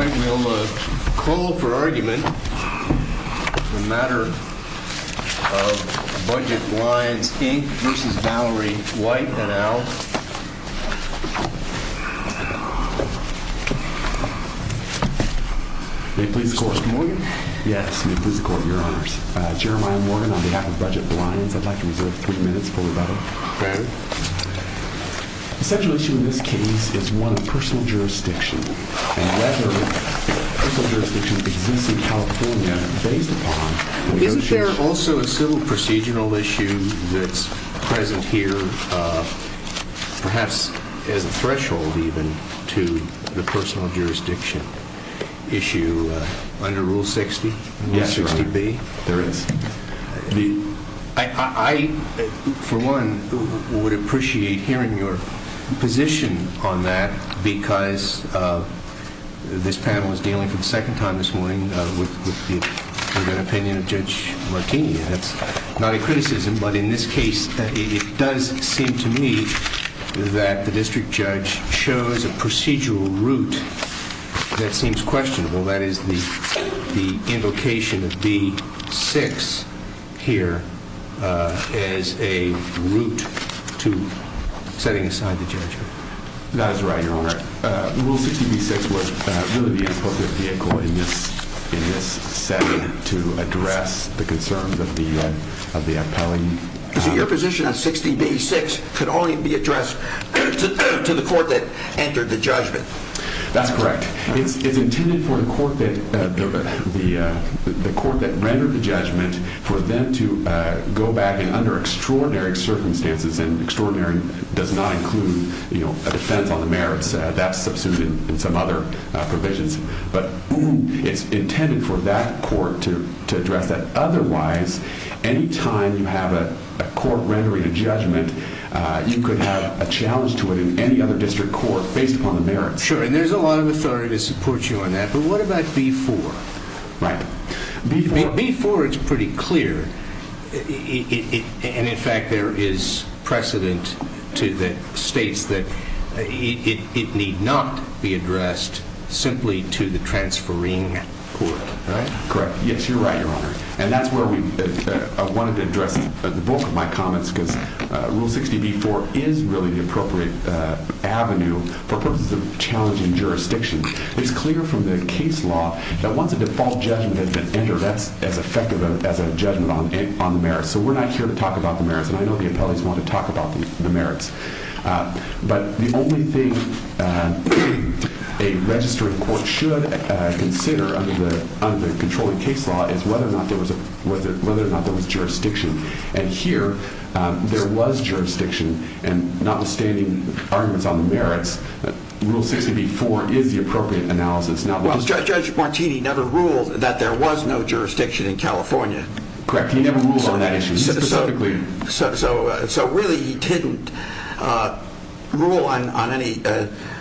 I will call for argument on the matter of Budget Blinds Inc. v. Valerie White and Al Jeremiah Morgan on behalf of Budget Blinds, I'd like to reserve three minutes for rebuttal. Okay. The central issue in this case is one of personal jurisdiction and whether personal jurisdiction exists in California based upon negotiation. Isn't there also a civil procedural issue that's present here perhaps as a threshold even to the personal jurisdiction issue under Rule 60, Rule 60B? There is. I for one would appreciate hearing your position on that because this panel is dealing for the opinion of Judge Martini. That's not a criticism but in this case it does seem to me that the district judge shows a procedural route that seems questionable. That is the invocation of B6 here as a route to setting aside the judgment. That is right, Your Honor. Rule 60B-6 was really the invocative vehicle in this setting to address the concerns of the appellee. So your position on 60B-6 could only be addressed to the court that entered the judgment? That's correct. It's intended for the court that rendered the judgment for them to go back and under extraordinary circumstances and extraordinary does not include a defense on the merits. That's substituted in some other provisions but it's intended for that court to address that. Otherwise, any time you have a court rendering a judgment, you could have a challenge to it in any other district court based upon the merits. Sure. And there's a lot of authority to support you on that but what about B4? Right. B4 is pretty clear and in fact, there is precedent to the states that it need not be addressed simply to the transferring court, right? Correct. Yes, you're right, Your Honor. And that's where I wanted to address the bulk of my comments because Rule 60B-4 is really the appropriate avenue for purposes of challenging jurisdiction. It's clear from the case law that once a default judgment has been entered, that's as effective as a judgment on the merits. So we're not here to talk about the merits and I know the appellees want to talk about the merits. But the only thing a registering court should consider under the controlling case law is whether or not there was jurisdiction. And here, there was jurisdiction and notwithstanding arguments on the merits, Rule 60B-4 is the appropriate analysis. Well, Judge Martini never ruled that there was no jurisdiction in California. Correct. He never ruled on that issue specifically. So really, he didn't rule on any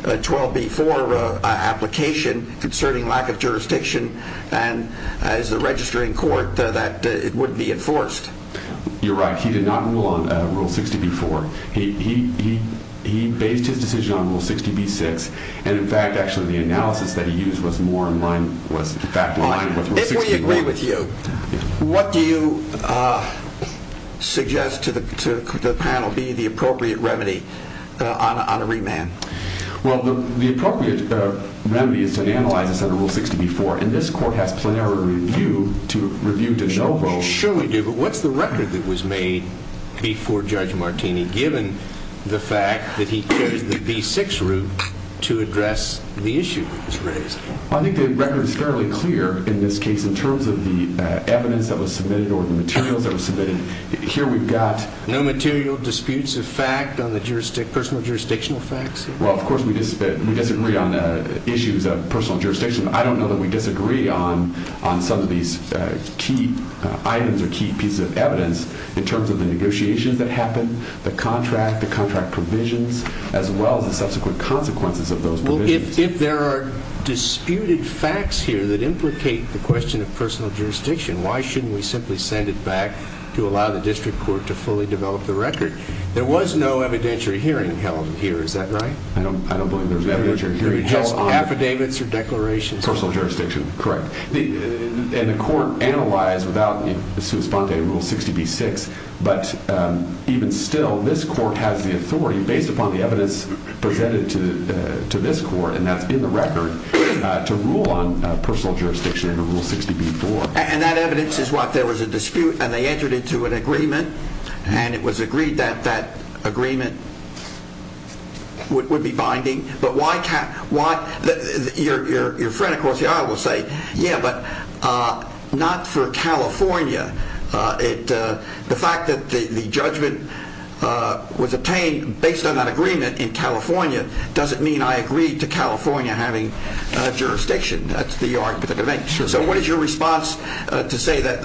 12B-4 application concerning lack of jurisdiction and as the registering court that it would be enforced. You're right. He did not rule on Rule 60B-4. He based his decision on Rule 60B-6 and in fact, actually, the analysis that he used was more in line with Rule 60B-4. If we agree with you, what do you suggest to the panel be the appropriate remedy on a remand? Well, the appropriate remedy is to analyze this under Rule 60B-4 and this court has plenary review to review to no vote. Sure, we do. But what's the record that was made before Judge Martini given the fact that he chose the B-6 route to address the issue that was raised? I think the record is fairly clear in this case in terms of the evidence that was submitted or the materials that were submitted. Here we've got... No material disputes of fact on the personal jurisdictional facts? Well, of course, we disagree on issues of personal jurisdiction. I don't know that we disagree on some of these key items or key pieces of evidence in terms of the negotiations that happened, the contract, the contract provisions, as well as the subsequent consequences of those provisions. If there are disputed facts here that implicate the question of personal jurisdiction, why shouldn't we simply send it back to allow the district court to fully develop the record? There was no evidentiary hearing held here. Is that right? I don't believe there was an evidentiary hearing held on... Affidavits or declarations? Personal jurisdiction. Correct. And the court analyzed without a suit sponte Rule 60B-6, but even still, this court has the authority, based upon the evidence presented to this court, and that's in the record, to rule on personal jurisdiction under Rule 60B-4. And that evidence is what? There was a dispute and they entered into an agreement, and it was agreed that that would be binding. But why... Your friend across the aisle will say, yeah, but not for California. The fact that the judgment was obtained based on that agreement in California doesn't mean I agree to California having jurisdiction. That's the argument of the debate. So what is your response to say that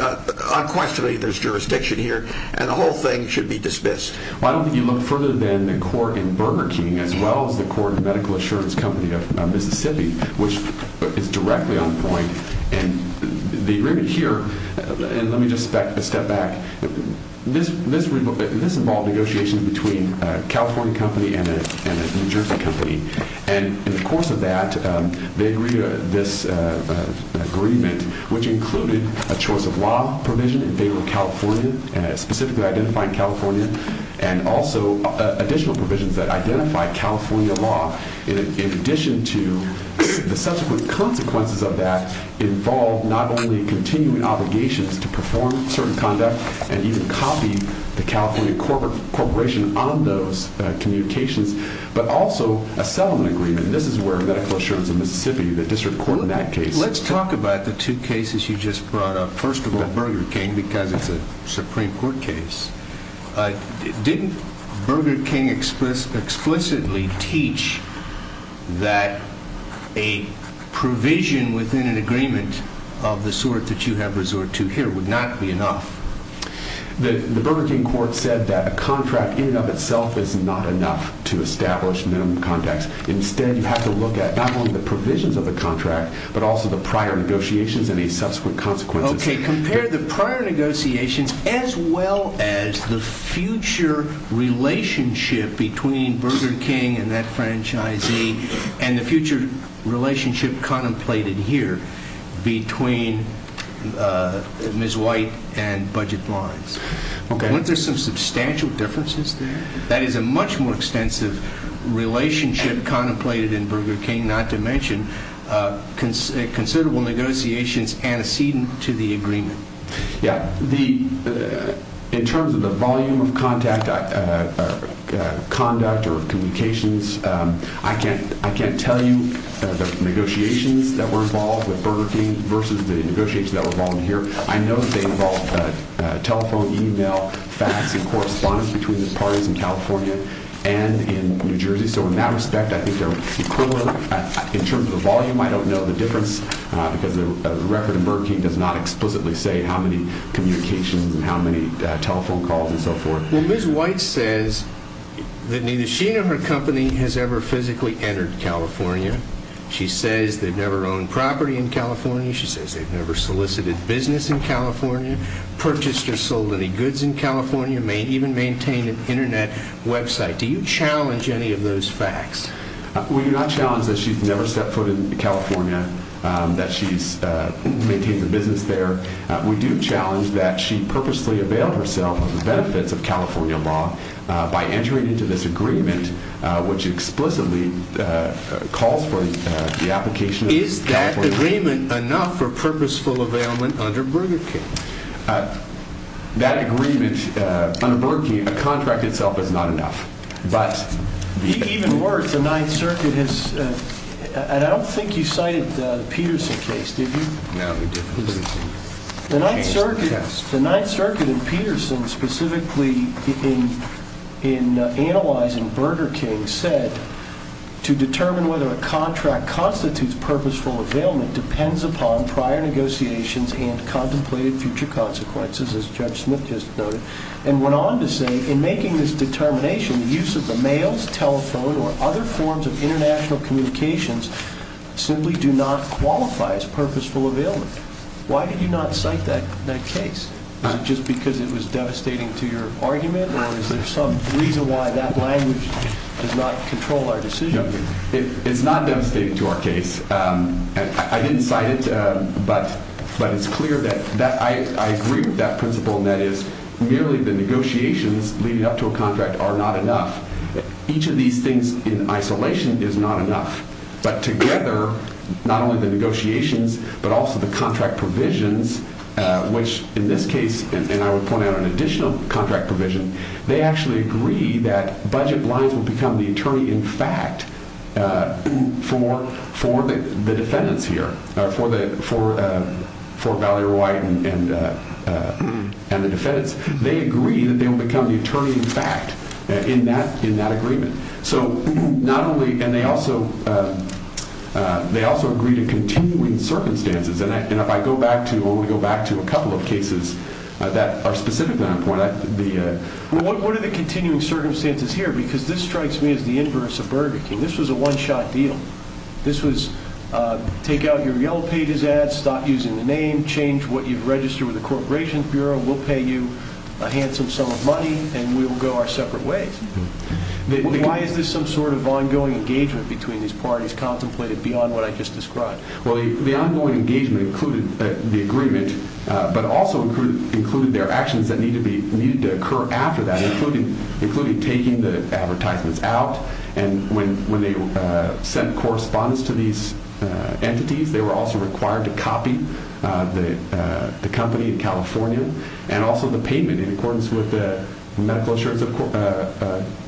unquestionably there's jurisdiction here and the whole thing should be dismissed? Well, I don't think you look further than the court in Burger King, as well as the court in Medical Assurance Company of Mississippi, which is directly on point. And the agreement here, and let me just step back, this involved negotiations between a California company and a New Jersey company. And in the course of that, they agreed to this agreement, which included a choice of law provision in favor of California, specifically identifying California, and also additional provisions that identify California law, in addition to the subsequent consequences of that involved not only continuing obligations to perform certain conduct and even copy the California corporation on those communications, but also a settlement agreement. This is where Medical Assurance of Mississippi, the district court in that case... I'm referring to Burger King because it's a Supreme Court case. Didn't Burger King explicitly teach that a provision within an agreement of the sort that you have resorted to here would not be enough? The Burger King court said that a contract in and of itself is not enough to establish minimum contracts. Instead, you have to look at not only the provisions of the contract, but also the prior negotiations and the subsequent consequences. Okay, compare the prior negotiations as well as the future relationship between Burger King and that franchisee and the future relationship contemplated here between Ms. White and Budget Bonds. Okay. Weren't there some substantial differences there? That is a much more extensive relationship contemplated in Burger King, not to mention considerable negotiations antecedent to the agreement. Yeah. In terms of the volume of contact, conduct, or communications, I can't tell you the negotiations that were involved with Burger King versus the negotiations that were involved here. I know that they involved telephone, email, fax, and correspondence between the parties in California and in New Jersey. In that respect, I think they're equivalent. In terms of the volume, I don't know the difference because the record in Burger King does not explicitly say how many communications and how many telephone calls and so forth. Well, Ms. White says that neither she nor her company has ever physically entered California. She says they've never owned property in California. She says they've never solicited business in California, purchased or sold any goods in California, may even maintain an internet website. Do you challenge any of those facts? We do not challenge that she's never set foot in California, that she maintains a business there. We do challenge that she purposely availed herself of the benefits of California law by entering into this agreement, which explicitly calls for the application of California law. Is that agreement enough for purposeful availment under Burger King? That agreement under Burger King, a contract itself is not enough. Even worse, the Ninth Circuit has... I don't think you cited the Peterson case, did you? No, we didn't. The Ninth Circuit in Peterson, specifically in analyzing Burger King, said, to determine whether a contract constitutes purposeful availment depends upon prior negotiations and contemplated future consequences, as Judge Smith just noted, and went on to say, in making this determination, the use of the mails, telephone, or other forms of international communications simply do not qualify as purposeful availment. Why did you not cite that case? Is it just because it was devastating to your argument, or is there some reason why that language does not control our decision? It's not devastating to our case. I didn't cite it, but it's clear that I agree with that principle, and that is, merely the negotiations leading up to a contract are not enough. Each of these things in isolation is not enough, but together, not only the negotiations, but also the contract provisions, which in this case, and I would point out an additional contract provision, they actually agree that budget lines would become the attorney in fact. The defendants here, for Valerie White and the defendants, they agree that they will become the attorney in fact, in that agreement. They also agree to continuing circumstances, and if I go back to a couple of cases that are specific to that point. What are the continuing circumstances here? Because this strikes me as the inverse of Burger King. This was a one-shot deal. This was, take out your Yellow Pages ads, stop using the name, change what you've registered with the Corporation Bureau, we'll pay you a handsome sum of money, and we'll go our separate ways. Why is this some sort of ongoing engagement between these parties contemplated beyond what I just described? Well, the ongoing engagement included the agreement, but also included their actions that needed to occur after that, including taking the advertisements out, and when they sent correspondence to these entities, they were also required to copy the company in California, and also the payment in accordance with the Medical Assurance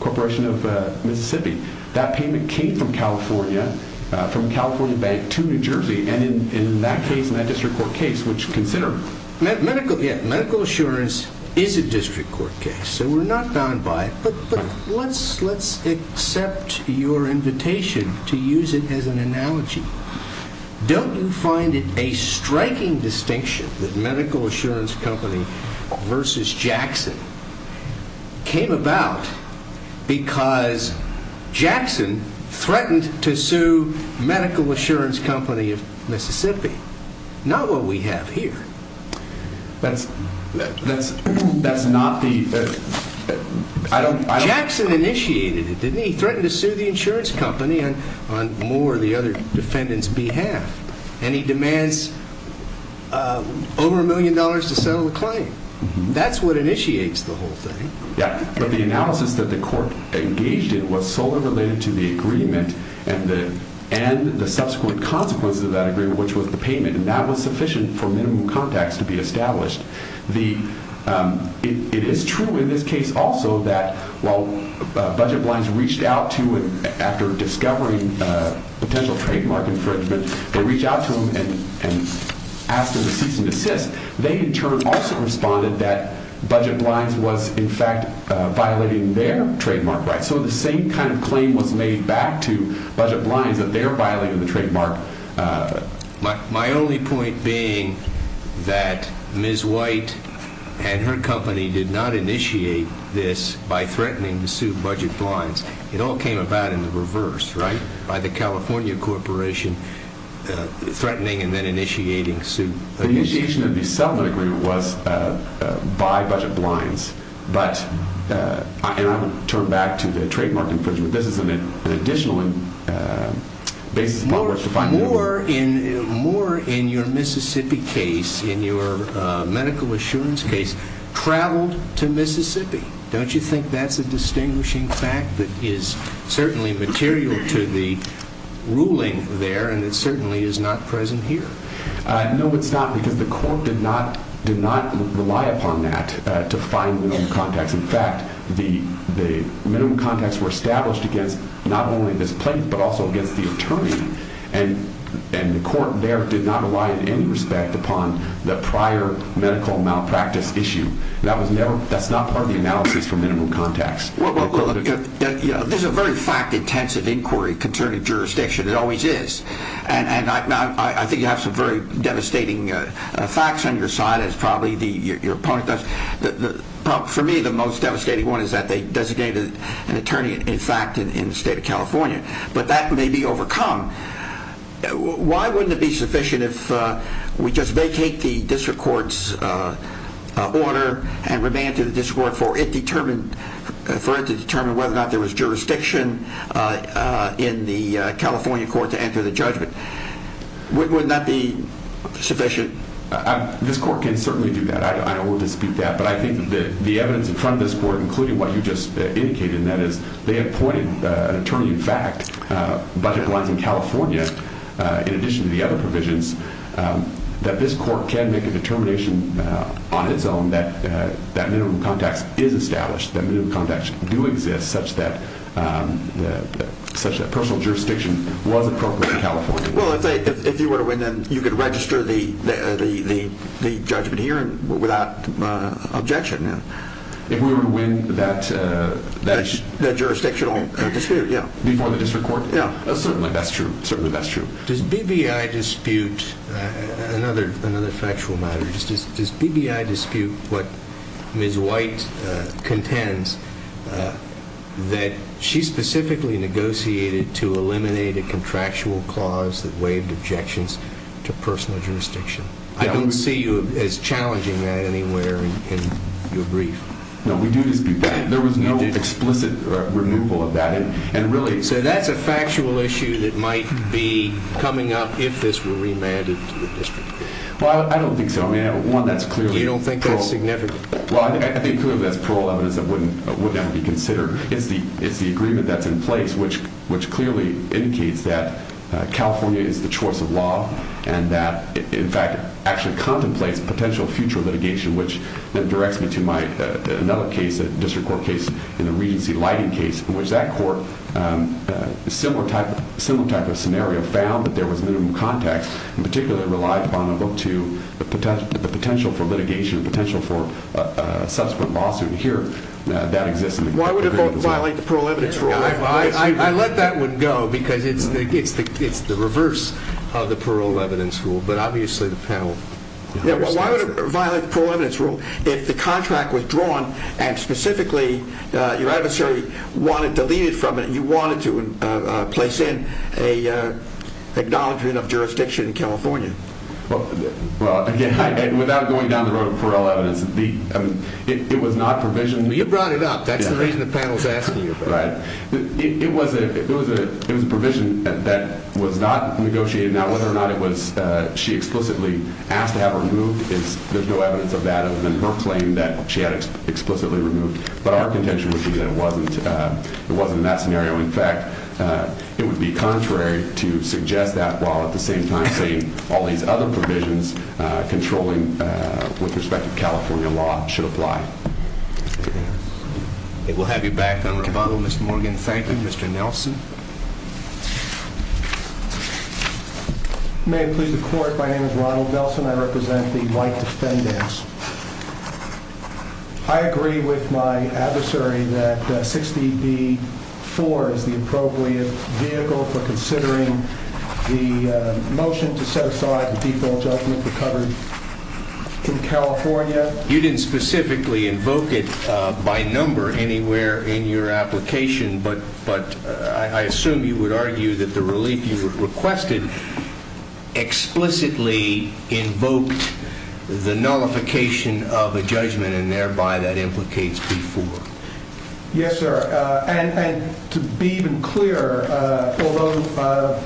Corporation of Mississippi. That payment came from California, from California Bank to New Jersey, and in that case, in that district court case, which considered- Medical assurance is a district court case, so we're not bound by it, but let's accept your invitation to use it as an analogy. Don't you find it a striking distinction that Medical Assurance Company versus Jackson came about because Jackson threatened to sue Medical Assurance Company of Mississippi, not what we have here? That's, that's, that's not the, I don't- He initiated it, didn't he? He threatened to sue the insurance company on more of the other defendant's behalf, and he demands over a million dollars to settle the claim. That's what initiates the whole thing. Yeah, but the analysis that the court engaged in was solely related to the agreement and the subsequent consequences of that agreement, which was the payment, and that was sufficient for minimum contacts to be established. It is true in this case also that while budget blinds reached out to him after discovering potential trademark infringement, they reached out to him and asked him to cease and desist. They, in turn, also responded that budget blinds was, in fact, violating their trademark rights, so the same kind of claim was made back to budget blinds that they're violating the trademark. My only point being that Ms. White and her company did not initiate this by threatening to sue budget blinds. It all came about in the reverse, right? By the California corporation threatening and then initiating to sue. The initiation of the settlement agreement was by budget blinds, but, and I would turn back to the trademark infringement. More in your Mississippi case, in your medical assurance case, traveled to Mississippi. Don't you think that's a distinguishing fact that is certainly material to the ruling there and it certainly is not present here? No, it's not because the court did not rely upon that to find minimum contacts. In fact, the minimum contacts were established against not only this plaintiff, but also against the attorney, and the court there did not rely in any respect upon the prior medical malpractice issue. That's not part of the analysis for minimum contacts. There's a very fact-intensive inquiry concerning jurisdiction, it always is, and I think you have some very devastating facts on your side, as probably your opponent does. For me, the most devastating one is that they designated an attorney, in fact, in the state of California, but that may be overcome. Why wouldn't it be sufficient if we just vacate the district court's order and remand to the district court for it to determine whether or not there was jurisdiction in the California court to enter the judgment? Wouldn't that be sufficient? This court can certainly do that. I don't want to dispute that, but I think that the evidence in front of this court, including what you just indicated, and that is they appointed an attorney, in fact, budget blinds in California, in addition to the other provisions, that this court can make a determination on its own that minimum contacts is established, that minimum contacts do exist, such that personal jurisdiction was appropriate in California. Well, if you were to win, then you could register the judgment here without objection. If we were to win that... That jurisdictional dispute, yeah. Before the district court? Yeah. Certainly, that's true. Does BBI dispute, another factual matter, does BBI dispute what Ms. White contends, that she specifically negotiated to eliminate a contractual clause that waived objections to personal jurisdiction? I don't see you as challenging that anywhere in your brief. No, we do dispute that. There was no explicit removal of that, and really... So, that's a factual issue that might be coming up if this were remanded to the district court? Well, I don't think so. I mean, one, that's clearly... You don't think that's significant? Well, I think clearly that's parole evidence that wouldn't be considered. It's the agreement that's in place, which clearly indicates that California is the choice of law, and that, in fact, actually contemplates potential future litigation, which then directs me to another case, a district court case, in the Regency Lighting case, in which that court, similar type of scenario, found that there was minimum contacts, in particular reliable to the potential for litigation, potential for subsequent lawsuit. Here, that exists. Why would it violate the parole evidence rule? I let that one go, because it's the reverse of the parole evidence rule, but obviously the panel... Yeah, well, why would it violate the parole evidence rule, if the contract was drawn, and specifically, your adversary wanted to leave it from it, and you wanted to place an acknowledgment of jurisdiction in California? Well, again, without going down the road of parole evidence, it was not provision... Well, you brought it up. That's the reason the panel is asking you about it. Right. It was a provision that was not negotiated. Now, whether or not it was... She explicitly asked to have it removed, there's no evidence of that, other than her claim that she had it explicitly removed. But our contention would be that it wasn't in that scenario. In fact, it would be contrary to suggest that, while at the same time saying all these other provisions, controlling with respect to California law, should apply. We'll have you back on rebuttal, Mr. Morgan. Thank you. Mr. Nelson? May it please the court, my name is Ronald Nelson. I represent the white defendants. I agree with my adversary that 60B-4 is the appropriate vehicle for considering the motion to set aside the default judgment for coverage in California. You didn't specifically invoke it by number anywhere in your application, but I assume you would argue that the relief you requested explicitly invoked the nullification of a judgment, and thereby that implicates B-4. Yes, sir. And to be even clearer, although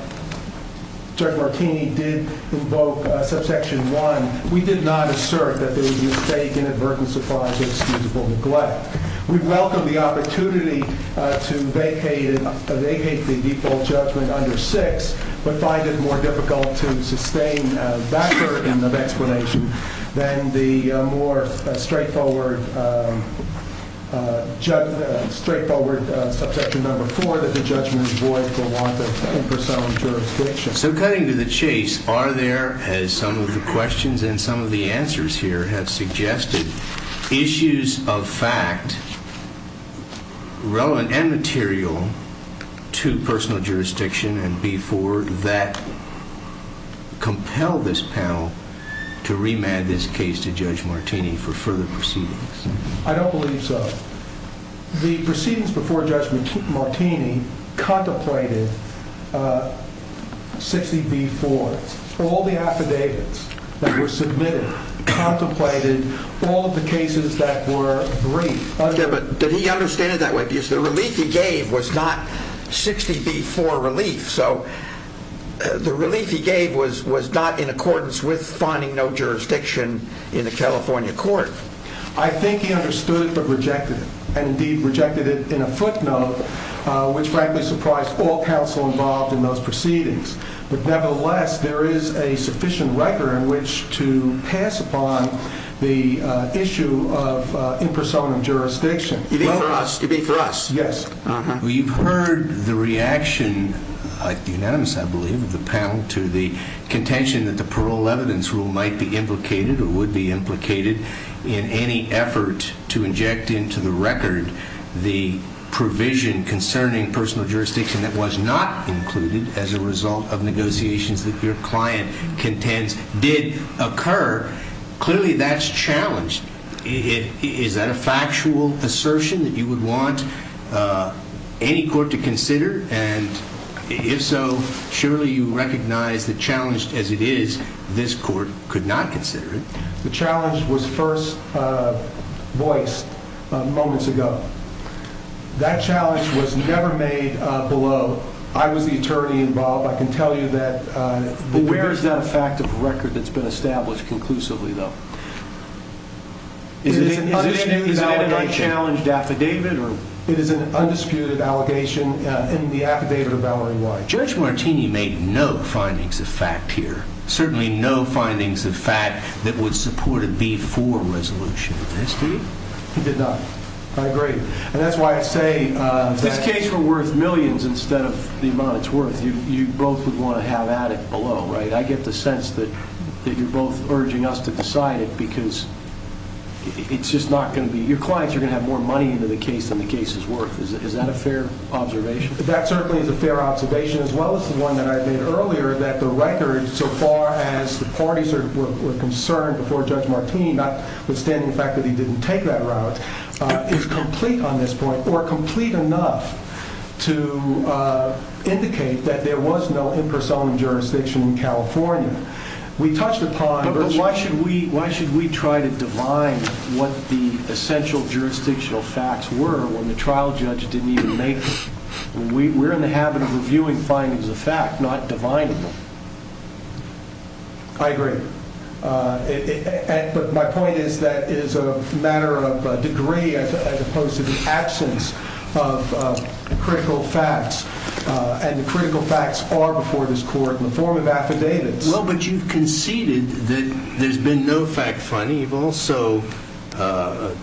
Judge Martini did invoke subsection 1, we did not assert that there was a mistake inadvertently supplied with excusable neglect. We welcome the opportunity to vacate the default judgment under 6, but find it more difficult to sustain a backward end of explanation than the more straightforward subsection number 4 that the judgment is void for want of impersonal jurisdiction. So cutting to the chase, are there, as some of the questions and some of the answers here have suggested, issues of fact relevant and material to personal jurisdiction and B-4 that compel this panel to remand this case to Judge Martini for further proceedings? I don't believe so. The proceedings before Judge Martini contemplated 60B-4. All the affidavits that were submitted contemplated all of the cases that were briefed. Okay, but did he understand it that way? Because the relief he gave was not 60B-4 relief, so the relief he gave was not in accordance with finding no jurisdiction in the California court. I think he understood but rejected it, and indeed rejected it in a footnote, which frankly involved in those proceedings. But nevertheless, there is a sufficient record in which to pass upon the issue of impersonal jurisdiction. It'd be for us. Yes. Well, you've heard the reaction, unanimous I believe, of the panel to the contention that the parole evidence rule might be implicated or would be implicated in any effort to inject into the record the provision concerning personal jurisdiction that was not included as a result of negotiations that your client contends did occur. Clearly, that's challenged. Is that a factual assertion that you would want any court to consider? And if so, surely you recognize the challenge as it is. This court could not consider it. The challenge was first voiced moments ago. That challenge was never made below. I was the attorney involved. I can tell you that... Where is that fact of record that's been established conclusively, though? Is it an undisputed allegation? Is it an unchallenged affidavit? It is an undisputed allegation in the affidavit of Valerie White. Judge Martini made no findings of fact here. Certainly no findings of fact that would support a B4 resolution. Did he? He did not. I agree. And that's why I say... If this case were worth millions instead of the amount it's worth, you both would want to have at it below, right? I get the sense that you're both urging us to decide it because it's just not going to be... Your clients are going to have more money into the case than the case is worth. Is that a fair observation? That certainly is a fair observation as well as the one that I made earlier that the record so far as the parties were concerned before Judge Martini, notwithstanding the fact that he didn't take that route, is complete on this point or complete enough to indicate that there was no impersonal jurisdiction in California. We touched upon... But why should we try to divine what the essential jurisdictional facts were when the trial judge didn't even make them? We're in the habit of reviewing findings of fact, not divining them. I agree. But my point is that it is a matter of degree as opposed to the absence of critical facts. And the critical facts are before this court in the form of affidavits. Well, but you've conceded that there's been no fact finding. You've also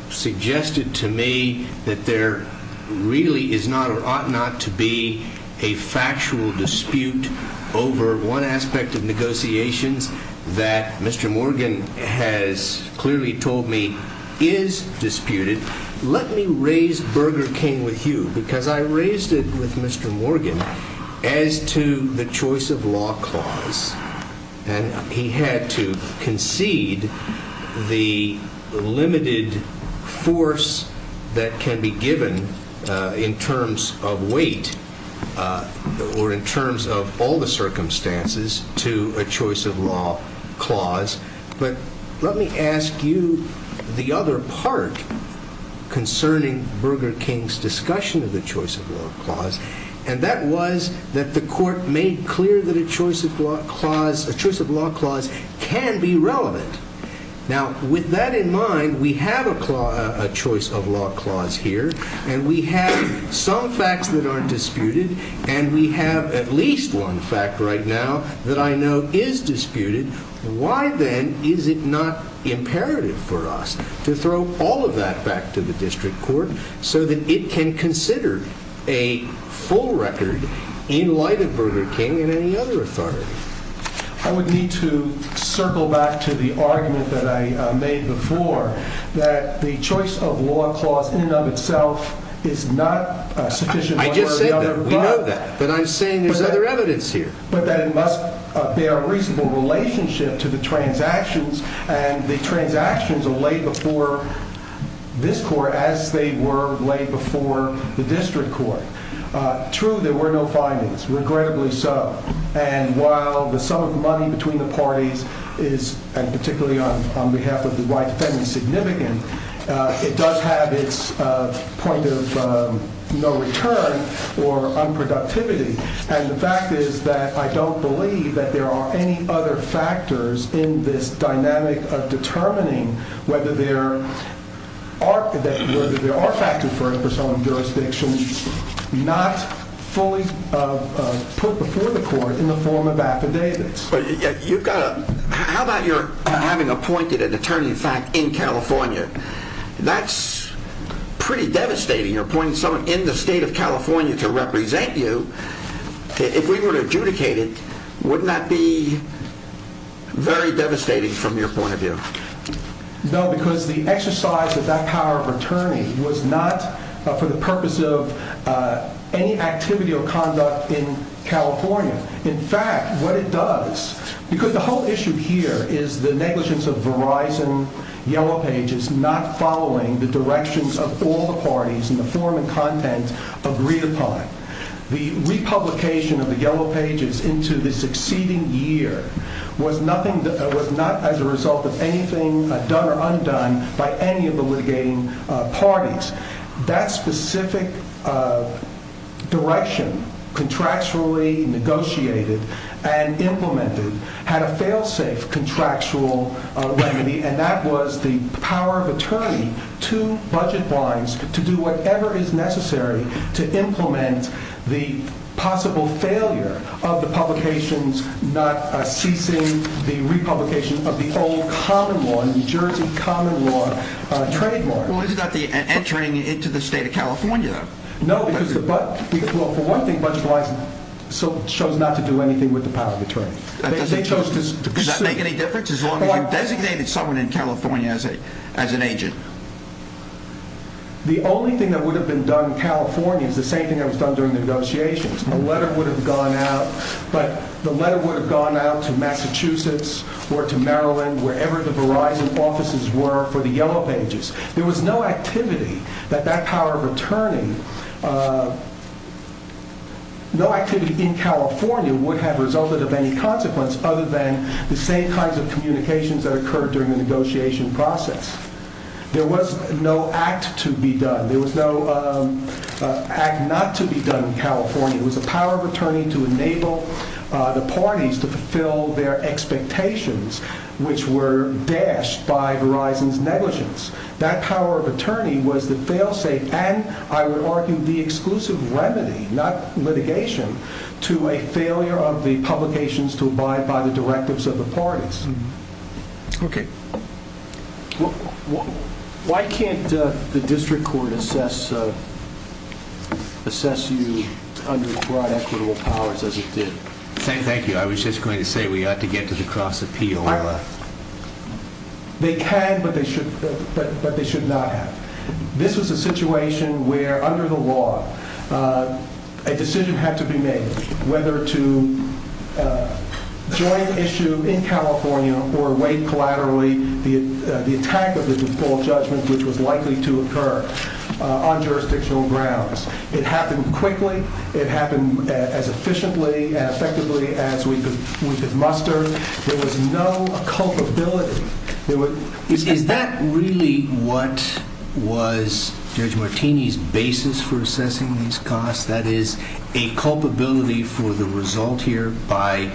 suggested to me that there really is not or ought not to be a factual dispute over one aspect of negotiations that Mr. Morgan has clearly told me is disputed. Let me raise Burger King with you because I raised it with Mr. Morgan as to the choice of law clause. And he had to concede the limited force that can be given in terms of weight or in terms of all the circumstances to a choice of law clause. But let me ask you the other part concerning Burger King's discussion of the choice of law clause, and that was that the court made clear that a choice of law clause can be relevant. Now, with that in mind, we have a choice of law clause here, and we have some facts that aren't disputed, and we have at least one fact right now that I know is disputed. Why then is it not imperative for us to throw all of that back to the district court so that it can consider a full record in light of Burger King and any other authority? I would need to circle back to the argument that I made before that the choice of law clause in and of itself is not sufficient. I just said that. We know that. But I'm saying there's other evidence here. But that it must bear a reasonable relationship to the transactions, and the transactions are laid before this court as they were laid before the district court. True, there were no findings. Regrettably so. And while the sum of money between the parties is, and particularly on behalf of the white defendant, significant, it does have its point of no return or unproductivity. And the fact is that I don't believe that there are any other factors in this dynamic of determining whether there are factors for some jurisdictions not fully put before the court in the form of affidavits. How about your having appointed an attorney of fact in California? That's pretty devastating. You're appointing someone in the state of California to represent you. If we were to adjudicate it, wouldn't that be very devastating from your point of view? No, because the exercise of that power of attorney was not for the purpose of any activity or conduct in California. In fact, what it does, because the whole issue here is the negligence of Verizon, not following the directions of all the parties in the form and content agreed upon. The republication of the Yellow Pages into the succeeding year was not as a result of anything done or undone by any of the litigating parties. That specific direction contractually negotiated and implemented had a failsafe contractual remedy, and that was the power of attorney to budget blinds to do whatever is necessary to implement the possible failure of the publications not ceasing the republication of the old common law, New Jersey common law trademark. Is that the entering into the state of California? No, because for one thing, budget blinds chose not to do anything with the power of attorney. Does that make any difference as long as you designated someone in California as an agent? The only thing that would have been done in California is the same thing that was done during the negotiations. A letter would have gone out, but the letter would have gone out to Massachusetts or to Maryland, wherever the Verizon offices were for the Yellow Pages. There was no activity that that power of attorney, no activity in California would have resulted of any consequence other than the same kinds of communications that occurred during the negotiation process. There was no act to be done. There was no act not to be done in California. It was the power of attorney to enable the parties to fulfill their expectations, which were dashed by Verizon's negligence. That power of attorney was the fail-safe, and I would argue the exclusive remedy, not litigation, to a failure of the publications to abide by the directives of the parties. Okay. Why can't the district court assess you under broad equitable powers as it did? Thank you. I was just going to say we ought to get to the cross-appeal. They can, but they should not have. This was a situation where, under the law, a decision had to be made whether to join the issue in California or wait collaterally the attack of the default judgment, which was likely to occur on jurisdictional grounds. It happened quickly. It happened as efficiently and effectively as we could muster. There was no culpability. Is that really what was Judge Martini's basis for assessing these costs, that is a culpability for the result here by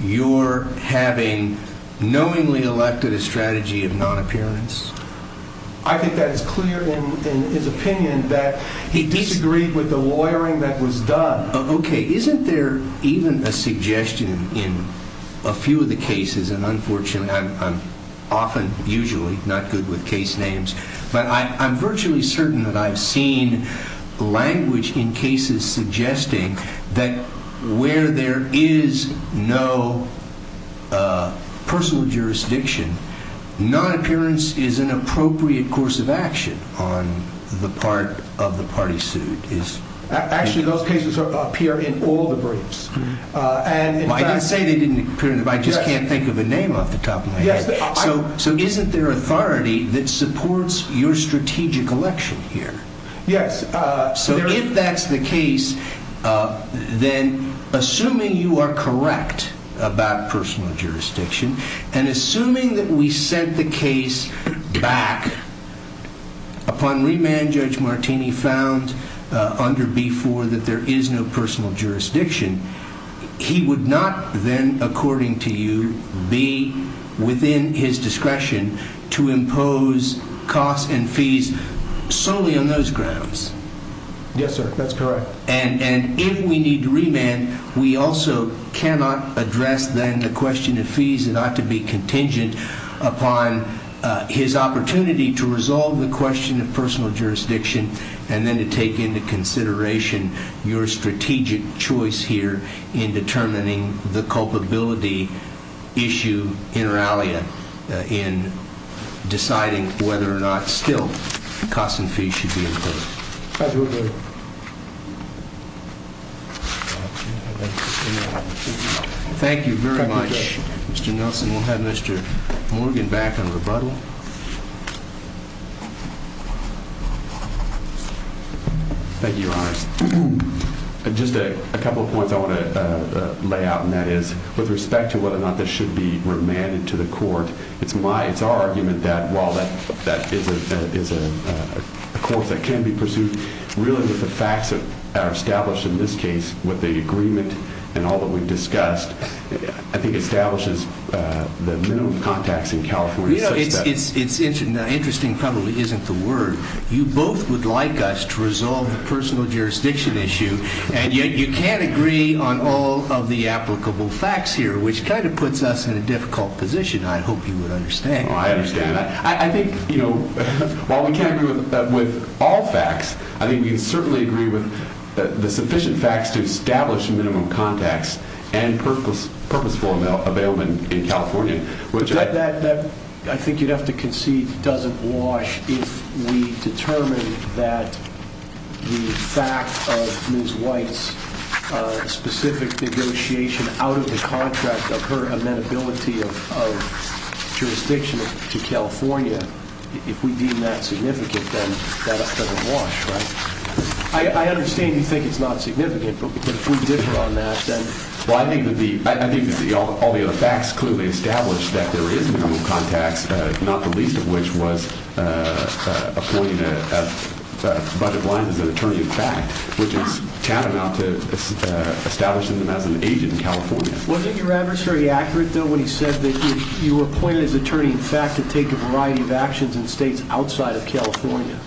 your having knowingly elected a strategy of non-appearance? I think that is clear in his opinion that he disagreed with the lawyering that was done. Okay. Isn't there even a suggestion in a few of the cases, and unfortunately I'm often usually not good with case names, but I'm virtually certain that I've seen language in cases suggesting that where there is no personal jurisdiction, non-appearance is an appropriate course of action on the part of the party sued. Actually, those cases appear in all the briefs. I didn't say they didn't appear in the briefs. I just can't think of a name off the top of my head. So isn't there authority that supports your strategic election here? Yes. So if that's the case, then assuming you are correct about personal jurisdiction and assuming that we sent the case back upon remand Judge Martini found under B-4 that there is no personal jurisdiction, he would not then, according to you, be within his discretion to impose costs and fees solely on those grounds. Yes, sir. That's correct. And if we need remand, we also cannot address then the question of fees not to be contingent upon his opportunity to resolve the question of personal jurisdiction and then to take into consideration your strategic choice here in determining the culpability issue, inter alia, in deciding whether or not still costs and fees should be imposed. Thank you. Thank you very much, Mr. Nelson. We'll have Mr. Morgan back on rebuttal. Thank you, Your Honor. Just a couple of points I want to lay out, and that is with respect to whether or not this should be remanded to the court, it's my, it's our argument that while that is a course that can be pursued, really with the facts that are established in this case, with the agreement and all that we've discussed, I think it establishes the minimum contacts in California. You know, it's interesting, probably isn't the word, you both would like us to resolve the personal jurisdiction issue, and yet you can't agree on all of the applicable facts here, which kind of puts us in a difficult position. I hope you would understand. Oh, I understand. I think, you know, while we can't agree with all facts, I think we can certainly agree with the sufficient facts to establish minimum contacts and purposeful availment in California. That, I think you'd have to concede, doesn't wash if we determine that the fact of Ms. White's specific negotiation out of the contract of her amenability of jurisdiction to California, if we deem that significant, then that doesn't wash, right? I understand you think it's not significant, but if we differ on that, then... Well, I think that all the other facts clearly establish that there is minimum contacts, not the least of which was appointing a budget line as an attorney-in-fact, which is tantamount to establishing them as an agent in California. Wasn't your adversary accurate, though, when he said that you appointed his attorney-in-fact to take a variety of actions in states outside of California?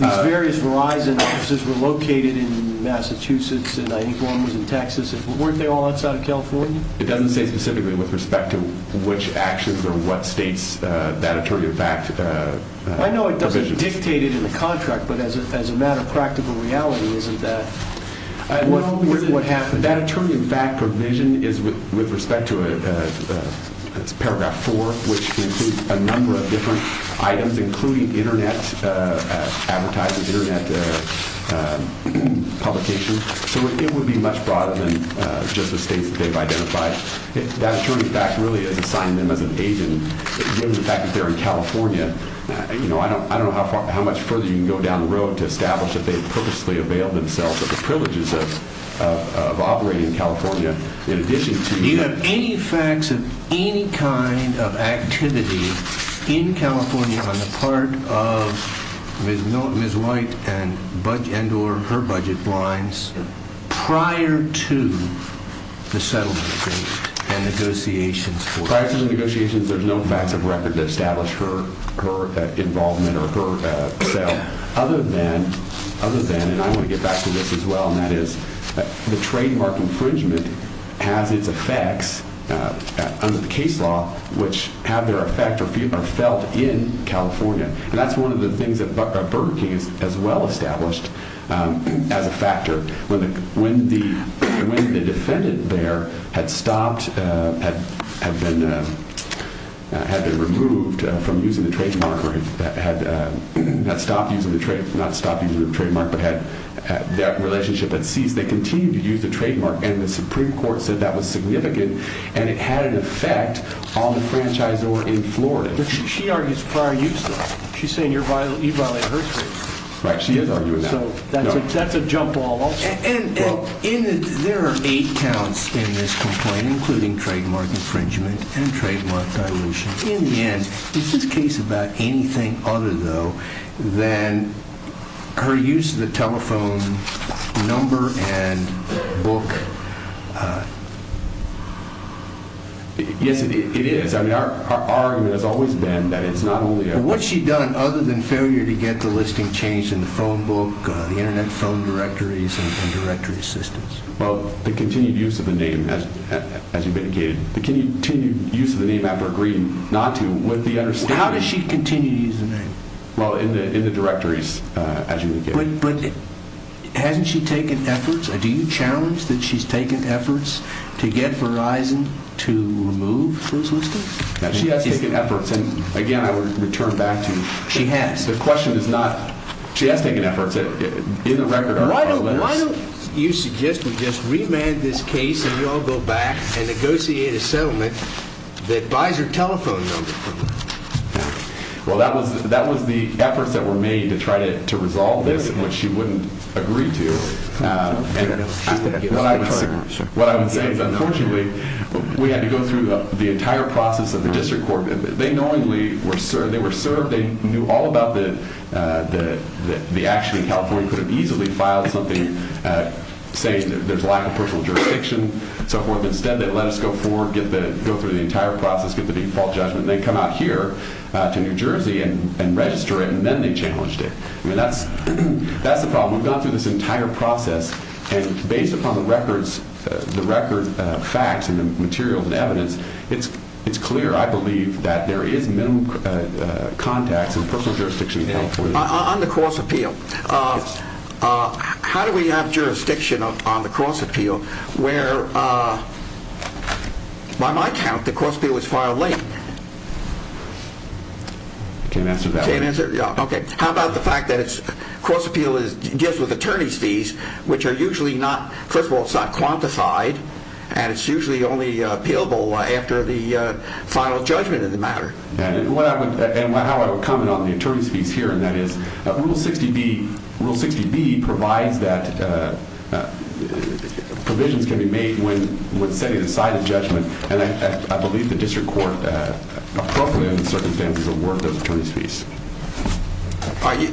These various Verizon offices were located in Massachusetts, and I think one was in Texas. Weren't they all outside of California? It doesn't say specifically with respect to which actions or what states that attorney-in-fact... I know it doesn't dictate it in the contract, but as a matter of practical reality, isn't that... What happened? That attorney-in-fact provision is with respect to paragraph 4, which includes a number of different items, including Internet advertising, Internet publication. So it would be much broader than just the states that they've identified. That attorney-in-fact really is assigning them as an agent, given the fact that they're in California. You know, I don't know how much further you can go down the road to establish that they've purposely availed themselves of the privileges of operating in California in addition to... Do you have any facts of any kind of activity in California on the part of Ms. White and her budget blinds prior to the settlement of this and negotiations for it? Prior to the negotiations, there's no facts of record to establish her involvement or her sale, other than, and I want to get back to this as well, and that is the trademark infringement has its effects under the case law, which have their effect or are felt in California. And that's one of the things that Barbara King has well established as a factor. When the defendant there had stopped, had been removed from using the trademark, or had not stopped using the trademark, but had that relationship had ceased, they continued to use the trademark, and the Supreme Court said that was significant, and it had an effect on the franchisor in Florida. But she argues prior use, though. She's saying you're violating her rights. Right, she is arguing that. So that's a jump ball. And there are eight counts in this complaint, including trademark infringement and trademark dilution. In the end, is this case about anything other, though, than her use of the telephone number and book? Yes, it is. I mean, our argument has always been that it's not only a… What's she done other than failure to get the listing changed in the phone book, the Internet phone directories, and directory systems? Well, the continued use of the name, as you indicated. The continued use of the name after agreeing not to, with the understanding… How does she continue to use the name? Well, in the directories, as you indicated. But hasn't she taken efforts? Do you challenge that she's taken efforts to get Verizon to remove this listing? She has taken efforts, and again, I would return back to… She has. The question is not, she has taken efforts. Why don't you suggest we just remand this case and we all go back and negotiate a settlement that buys her telephone number? Well, that was the efforts that were made to try to resolve this, which she wouldn't agree to. What I would say is, unfortunately, we had to go through the entire process of the district court. They knowingly were served. They knew all about the action in California, could have easily filed something saying there's a lack of personal jurisdiction, so forth. Instead, they let us go forward, go through the entire process, get the default judgment, and then come out here to New Jersey and register it, and then they challenged it. I mean, that's the problem. We've gone through this entire process, and based upon the record facts and the materials and evidence, it's clear. I believe that there is minimal contacts in personal jurisdiction in California. On the cross-appeal, how do we have jurisdiction on the cross-appeal where, by my count, the cross-appeal was filed late? I can't answer that. You can't answer? Okay. How about the fact that cross-appeal deals with attorney's fees, which are usually not, first of all, it's not quantified, and it's usually only appealable after the final judgment of the matter? And how I would comment on the attorney's fees here, and that is Rule 60B provides that provisions can be made when setting aside a judgment, and I believe the district court appropriately, in the circumstances of work, does attorney's fees.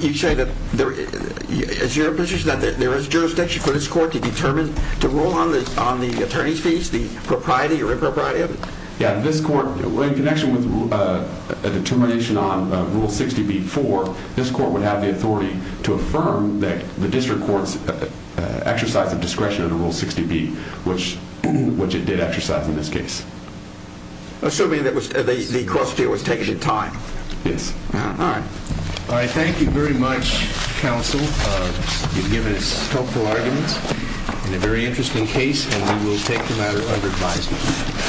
You say that there is jurisdiction for this court to rule on the attorney's fees, the propriety or impropriety of it? Yeah, this court, in connection with a determination on Rule 60B-4, this court would have the authority to affirm that the district courts exercise the discretion under Rule 60B, which it did exercise in this case. Assuming that the cross-appeal was taken in time? Yes. All right. All right. Thank you very much, counsel. You've given us helpful arguments and a very interesting case, and we will take the matter under advisement.